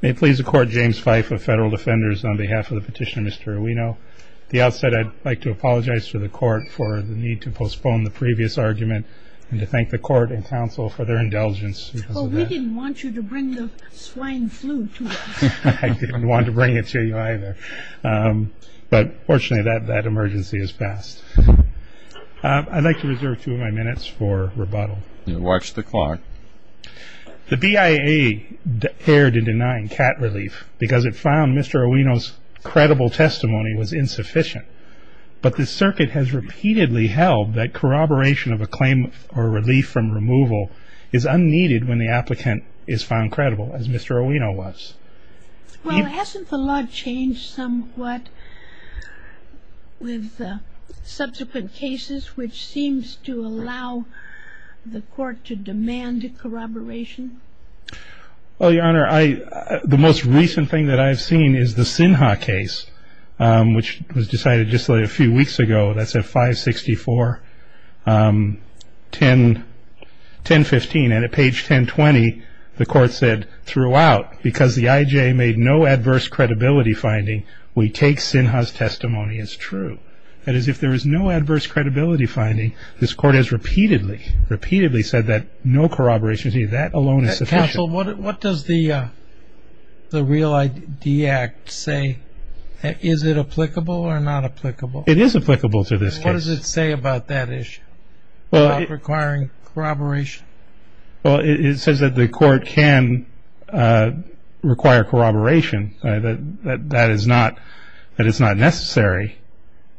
May it please the Court, James Fife of Federal Defenders, on behalf of the petitioner, Mr. Urbino. At the outset, I'd like to apologize to the Court for the need to postpone the previous argument and to thank the Court and counsel for their indulgence. Well, we didn't want you to bring the swine flu to us. I didn't want to bring it to you either, but fortunately that emergency has passed. I'd like to reserve two of my minutes for rebuttal. Watch the clock. The BIA erred in denying cat relief because it found Mr. Urbino's credible testimony was insufficient, but the circuit has repeatedly held that corroboration of a claim or relief from removal is unneeded when the applicant is found credible, as Mr. Urbino was. Well, hasn't the law changed somewhat with subsequent cases, which seems to allow the plaintiff corroboration? Well, Your Honor, the most recent thing that I've seen is the Sinha case, which was decided just a few weeks ago. That's at 564-1015. And at page 1020, the Court said throughout, because the IJ made no adverse credibility finding, we take Sinha's testimony as true. That is, if there is no adverse credibility finding, this Court has repeatedly, repeatedly said that no corroboration is needed. That alone is sufficient. Counsel, what does the REAL ID Act say? Is it applicable or not applicable? It is applicable to this case. What does it say about that issue, about requiring corroboration? Well, it says that the Court can require corroboration, that that is not necessary,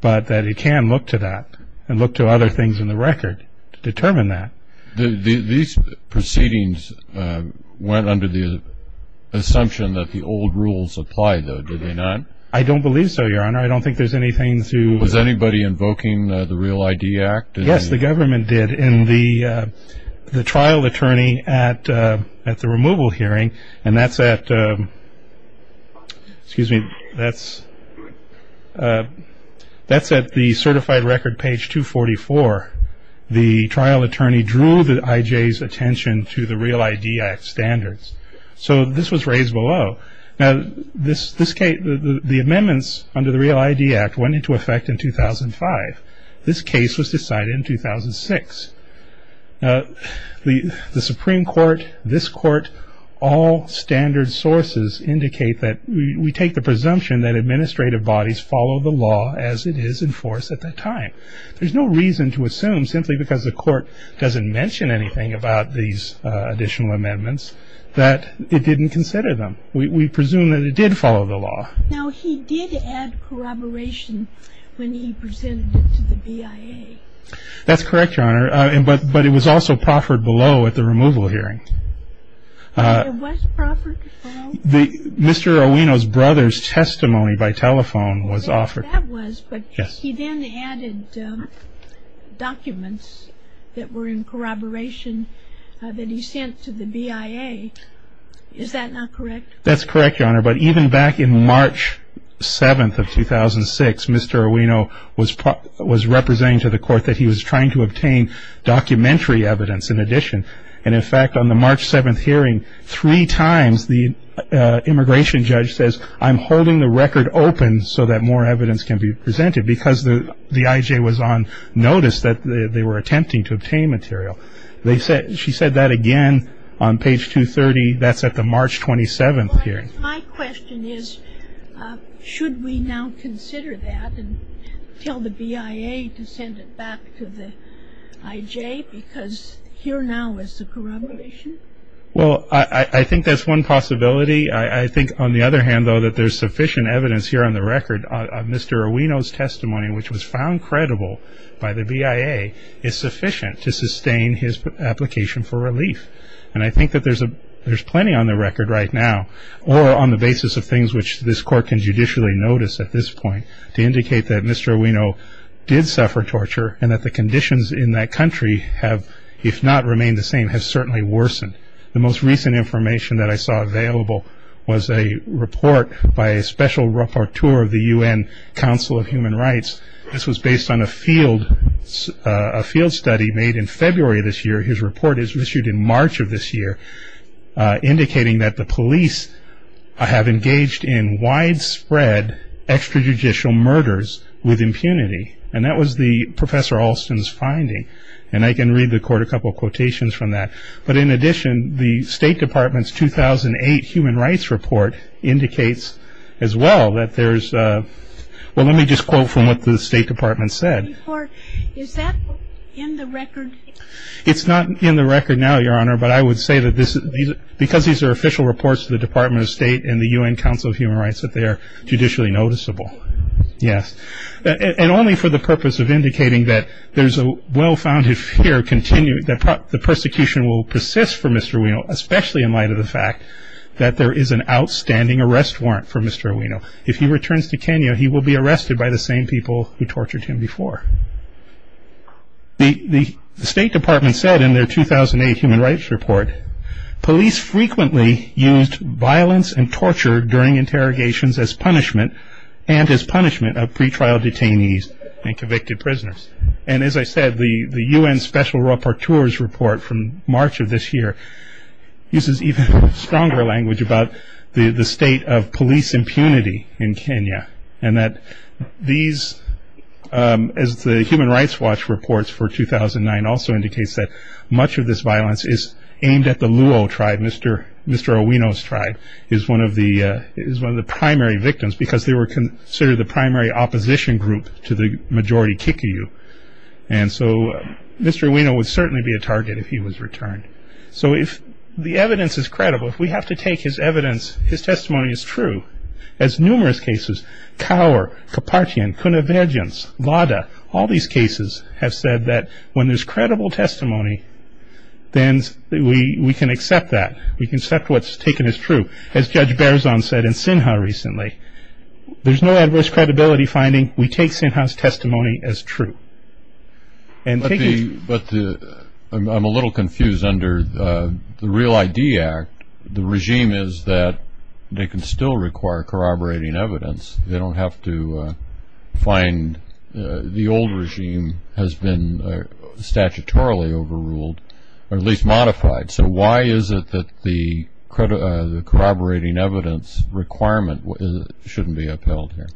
but that it can look to that and look to other things in the record to determine that. These proceedings went under the assumption that the old rules apply, though, did they not? I don't believe so, Your Honor. I don't think there's anything to Was anybody invoking the REAL ID Act? Yes, the government did. the trial attorney at the removal hearing, and that's at the certified record, page 244. The trial attorney drew the IJ's attention to the REAL ID Act standards. So this was raised below. Now, the amendments under the REAL ID Act went into effect in 2005. This case was decided in 2006. The Supreme Court, this Court, all standard sources indicate that we take the presumption that administrative bodies follow the law as it is enforced at that time. There's no reason to assume, simply because the Court doesn't mention anything about these additional amendments, that it didn't consider them. We presume that it did follow the law. Now, he did add corroboration when he presented it to the BIA. That's correct, Your Honor, but it was also proffered below at the removal hearing. It was proffered below? Mr. Owino's brother's testimony by telephone was offered. That was, but he then added documents that were in corroboration that he sent to the BIA. Is that not correct? That's correct, Your Honor, but even back in March 7th of 2006, Mr. Owino was representing to the Court that he was trying to obtain documentary evidence in addition. And, in fact, on the March 7th hearing, three times the immigration judge says, I'm holding the record open so that more evidence can be presented, because the IJ was on notice that they were attempting to obtain material. She said that again on page 230. That's at the March 27th hearing. My question is, should we now consider that and tell the BIA to send it back to the IJ, because here now is the corroboration? Well, I think that's one possibility. I think, on the other hand, though, that there's sufficient evidence here on the record. Mr. Owino's testimony, which was found credible by the BIA, is sufficient to sustain his application for relief. And I think that there's plenty on the record right now, or on the basis of things which this Court can judicially notice at this point, to indicate that Mr. Owino did suffer torture and that the conditions in that country have, if not remained the same, have certainly worsened. The most recent information that I saw available was a report by a special rapporteur of the UN Council of Human Rights. This was based on a field study made in February this year. His report is issued in March of this year, indicating that the police have engaged in widespread extrajudicial murders with impunity. And that was Professor Alston's finding. And I can read the Court a couple of quotations from that. But in addition, the State Department's 2008 Human Rights Report indicates as well that there's – well, let me just quote from what the State Department said. Is that in the record? It's not in the record now, Your Honor, but I would say that because these are official reports to the Department of State and the UN Council of Human Rights, that they are judicially noticeable. Yes. And only for the purpose of indicating that there's a well-founded fear that the persecution will persist for Mr. Ueno, especially in light of the fact that there is an outstanding arrest warrant for Mr. Ueno. If he returns to Kenya, he will be arrested by the same people who tortured him before. The State Department said in their 2008 Human Rights Report, police frequently used violence and torture during interrogations as punishment and as punishment of pretrial detainees and convicted prisoners. And as I said, the UN Special Rapporteur's report from March of this year uses even stronger language about the state of police impunity in Kenya and that these – as the Human Rights Watch reports for 2009 also indicates that much of this violence is aimed at the Luo tribe. Mr. Ueno's tribe is one of the primary victims because they were considered the primary opposition group to the majority Kikuyu. And so Mr. Ueno would certainly be a target if he was returned. So if the evidence is credible, if we have to take his evidence, his testimony as true, as numerous cases, Kaur, Kapartian, Kunaverjens, Lada, all these cases have said that when there's credible testimony, then we can accept that. We can accept what's taken as true. As Judge Berzon said in Sinha recently, there's no adverse credibility finding. We take Sinha's testimony as true. But I'm a little confused. Under the Real ID Act, the regime is that they can still require corroborating evidence. They don't have to find the old regime has been statutorily overruled or at least modified. So why is it that the corroborating evidence requirement shouldn't be upheld here?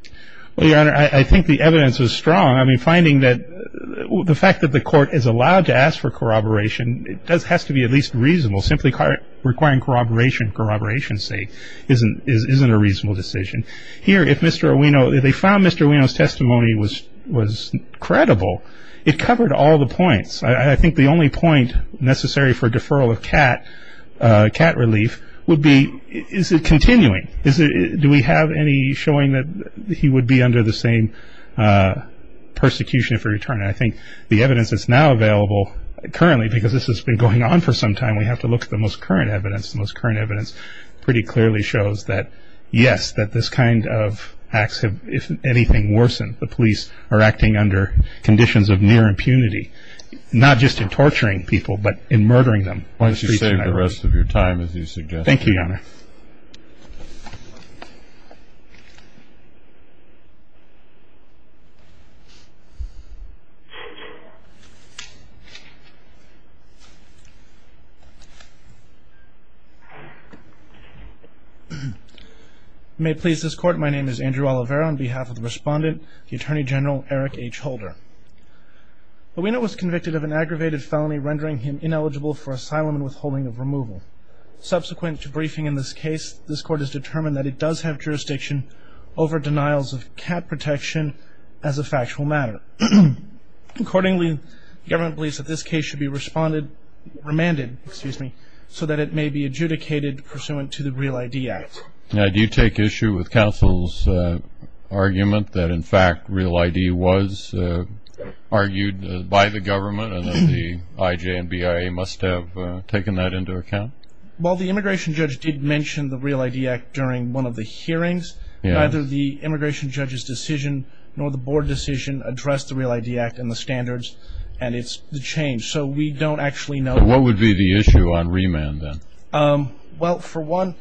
Well, Your Honor, I think the evidence is strong. I mean, finding that the fact that the court is allowed to ask for corroboration, it has to be at least reasonable. Simply requiring corroboration, say, isn't a reasonable decision. Here, if Mr. Ueno, if they found Mr. Ueno's testimony was credible, it covered all the points. I think the only point necessary for deferral of cat relief would be, is it continuing? Do we have any showing that he would be under the same persecution if he were to return? I think the evidence that's now available currently, because this has been going on for some time, we have to look at the most current evidence. The most current evidence pretty clearly shows that, yes, that this kind of acts have, if anything, worsened. The police are acting under conditions of near impunity, not just in torturing people, but in murdering them. Why don't you save the rest of your time, as you suggested? Thank you. May it please this Court, my name is Andrew Oliveira. On behalf of the Respondent, the Attorney General, Eric H. Holder. Ueno was convicted of an aggravated felony rendering him ineligible for asylum and withholding of removal. Subsequent to briefing in this case, this Court has determined that it does have jurisdiction over denials of cat protection as a factual matter. Accordingly, the government believes that this case should be responded, remanded, excuse me, so that it may be adjudicated pursuant to the Real ID Act. Now, do you take issue with counsel's argument that, in fact, Real ID was argued by the government and that the IJ and BIA must have taken that into account? Well, the immigration judge did mention the Real ID Act during one of the hearings. Neither the immigration judge's decision nor the board decision addressed the Real ID Act and the standards, and it's changed, so we don't actually know. What would be the issue on remand, then? Well, for one,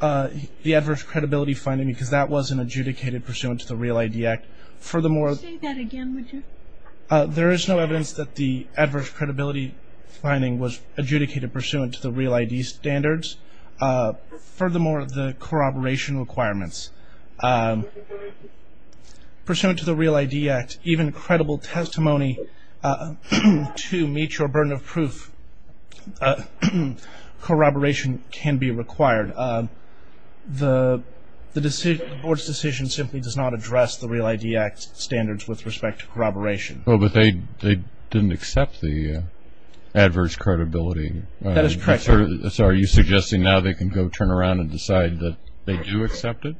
the adverse credibility finding, because that was an adjudicated pursuant to the Real ID Act. Furthermore- Say that again, would you? There is no evidence that the adverse credibility finding was adjudicated pursuant to the Real ID standards. Furthermore, the corroboration requirements. Pursuant to the Real ID Act, even credible testimony to meet your burden of proof, corroboration can be required. The board's decision simply does not address the Real ID Act standards with respect to corroboration. Well, but they didn't accept the adverse credibility. That is correct. So are you suggesting now they can go turn around and decide that they do accept it?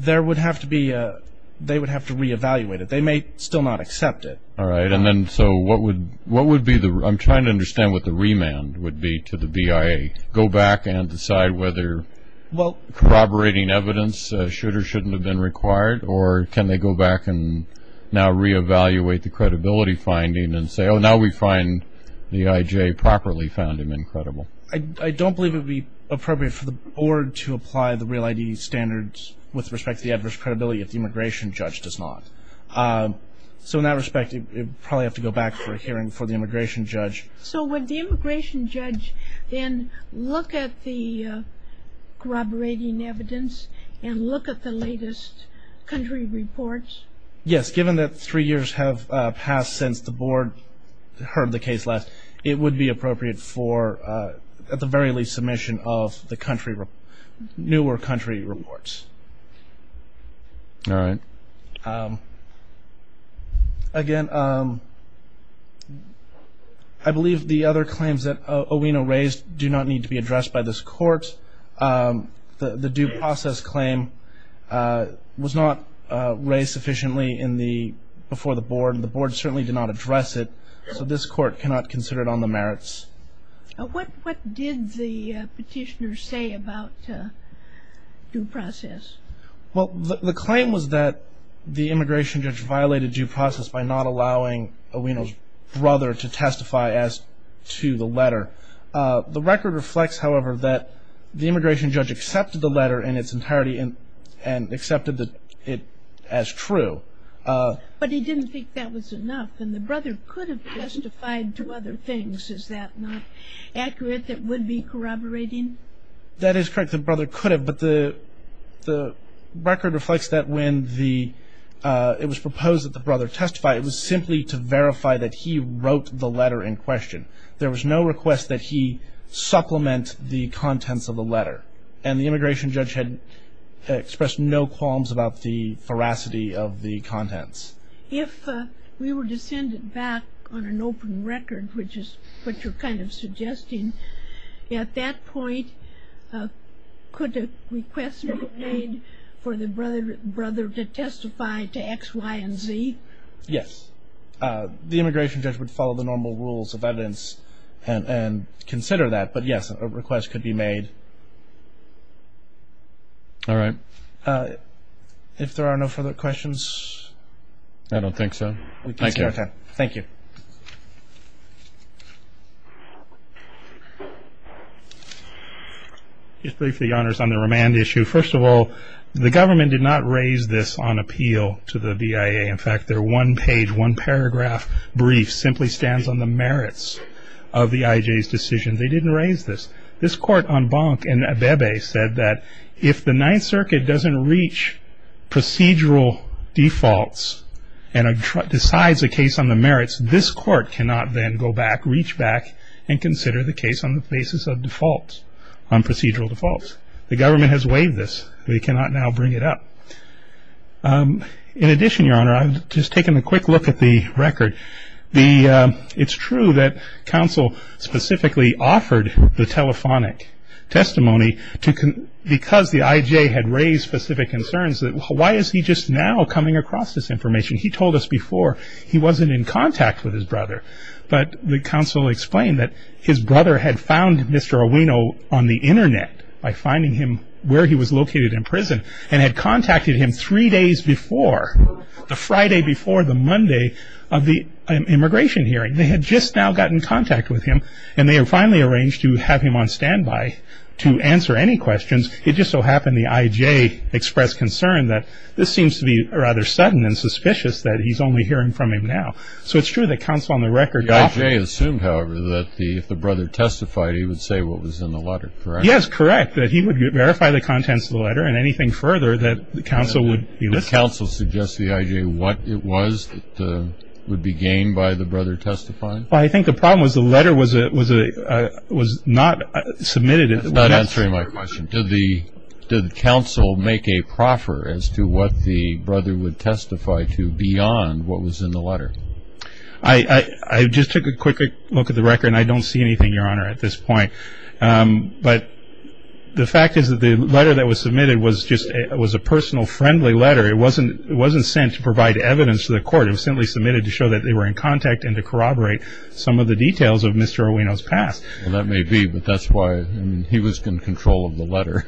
They would have to re-evaluate it. They may still not accept it. All right. And then so what would be the-I'm trying to understand what the remand would be to the BIA, go back and decide whether corroborating evidence should or shouldn't have been required, or can they go back and now re-evaluate the credibility finding and say, oh, now we find the IJ properly found him incredible? I don't believe it would be appropriate for the board to apply the Real ID standards with respect to the adverse credibility if the immigration judge does not. So in that respect, you'd probably have to go back for a hearing for the immigration judge. So would the immigration judge then look at the corroborating evidence and look at the latest country reports? Yes, given that three years have passed since the board heard the case last, it would be appropriate for at the very least submission of the country-newer country reports. All right. Again, I believe the other claims that Owino raised do not need to be addressed by this court. The due process claim was not raised sufficiently before the board, and the board certainly did not address it, so this court cannot consider it on the merits. What did the petitioner say about due process? Well, the claim was that the immigration judge violated due process by not allowing Owino's brother to testify as to the letter. The record reflects, however, that the immigration judge accepted the letter in its entirety and accepted it as true. But he didn't think that was enough, and the brother could have testified to other things. Is that not accurate, that would be corroborating? That is correct, the brother could have, but the record reflects that when it was proposed that the brother testify, it was simply to verify that he wrote the letter in question. There was no request that he supplement the contents of the letter, and the immigration judge had expressed no qualms about the veracity of the contents. If we were to send it back on an open record, which is what you're kind of suggesting, at that point, could a request be made for the brother to testify to X, Y, and Z? Yes. The immigration judge would follow the normal rules of evidence and consider that, but yes, a request could be made. All right. If there are no further questions? I don't think so. Thank you. Just briefly, Your Honors, on the remand issue. First of all, the government did not raise this on appeal to the BIA. In fact, their one-page, one-paragraph brief simply stands on the merits of the IJ's decision. They didn't raise this. This court on Bonk and Abebe said that if the Ninth Circuit doesn't reach procedural defaults and decides a case on the merits, this court cannot then go back, reach back, and consider the case on the basis of defaults, on procedural defaults. The government has waived this. They cannot now bring it up. In addition, Your Honor, I've just taken a quick look at the record. It's true that counsel specifically offered the telephonic testimony because the IJ had raised specific concerns, that why is he just now coming across this information? He told us before he wasn't in contact with his brother, but the counsel explained that his brother had found Mr. Owino on the Internet by finding him where he was located in prison and had contacted him three days before, the Friday before the Monday of the immigration hearing. They had just now gotten in contact with him, and they had finally arranged to have him on standby to answer any questions. It just so happened the IJ expressed concern that this seems to be rather sudden and suspicious that he's only hearing from him now. So it's true that counsel on the record offered- The IJ assumed, however, that if the brother testified, he would say what was in the letter, correct? Yes, correct, that he would verify the contents of the letter and anything further that the counsel would elicit. Did counsel suggest to the IJ what it was that would be gained by the brother testifying? Well, I think the problem was the letter was not submitted- I'm not answering my question. Did the counsel make a proffer as to what the brother would testify to beyond what was in the letter? I just took a quick look at the record, and I don't see anything, Your Honor, at this point. But the fact is that the letter that was submitted was a personal, friendly letter. It wasn't sent to provide evidence to the court. It was simply submitted to show that they were in contact and to corroborate some of the details of Mr. Owino's past. Well, that may be, but that's why he was in control of the letter.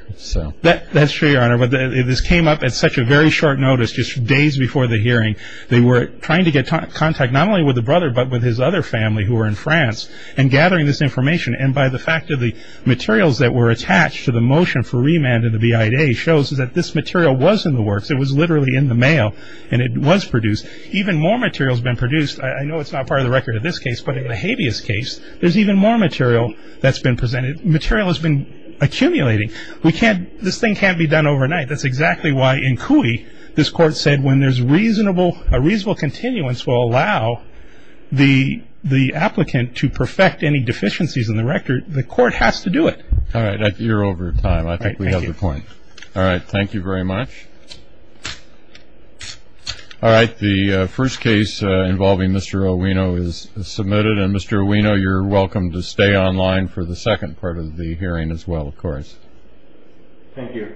That's true, Your Honor. But this came up at such a very short notice, just days before the hearing. They were trying to get contact not only with the brother, but with his other family who were in France and gathering this information. And by the fact of the materials that were attached to the motion for remand in the BIA shows that this material was in the works. It was literally in the mail, and it was produced. Even more material has been produced. I know it's not part of the record in this case, but in the habeas case, there's even more material that's been presented. Material has been accumulating. This thing can't be done overnight. That's exactly why in CUI this Court said when there's a reasonable continuance will allow the applicant to perfect any deficiencies in the record, the Court has to do it. All right. You're over time. I think we have the point. All right. Thank you very much. All right. The first case involving Mr. Owino is submitted. And, Mr. Owino, you're welcome to stay online for the second part of the hearing as well, of course. Thank you.